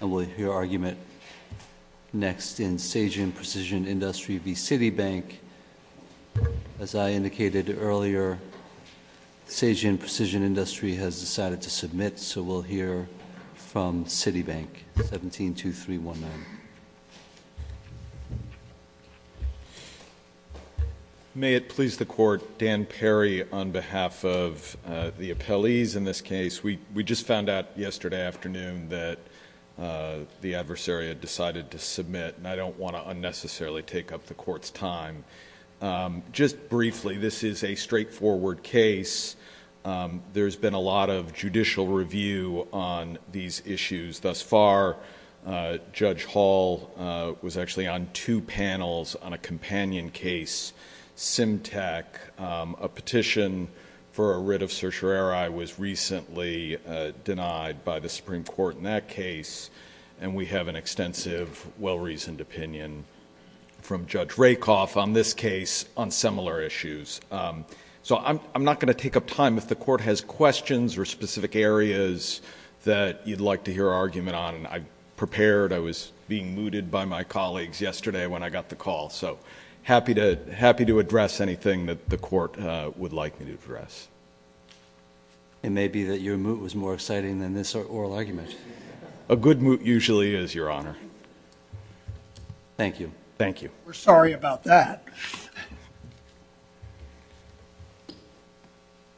We'll hear argument next in Sejin Precision Industry v. Citibank. As I indicated earlier, Sejin Precision Industry has decided to submit, so we'll hear from Citibank, 172319. May it please the Court, Dan Perry on behalf of the appellees in this case. We just found out yesterday afternoon that the adversary had decided to submit, and I don't want to unnecessarily take up the Court's time. Just briefly, this is a straightforward case. There's been a lot of judicial review on these issues thus far. Judge Hall was actually on two panels on a companion case, Symtec. A petition for a writ of certiorari was recently denied by the Supreme Court in that case, and we have an extensive, well-reasoned opinion from Judge Rakoff on this case on similar issues. I'm not going to take up time. If the Court has questions or specific areas that you'd like to hear argument on, I prepared. I was being mooted by my colleagues yesterday when I got the call, so happy to address anything that the Court would like me to address. It may be that your moot was more exciting than this oral argument. A good moot usually is, Your Honor. Thank you. Thank you. We're sorry about that.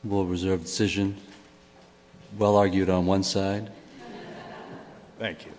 Will reserve decision. Well argued on one side. Thank you.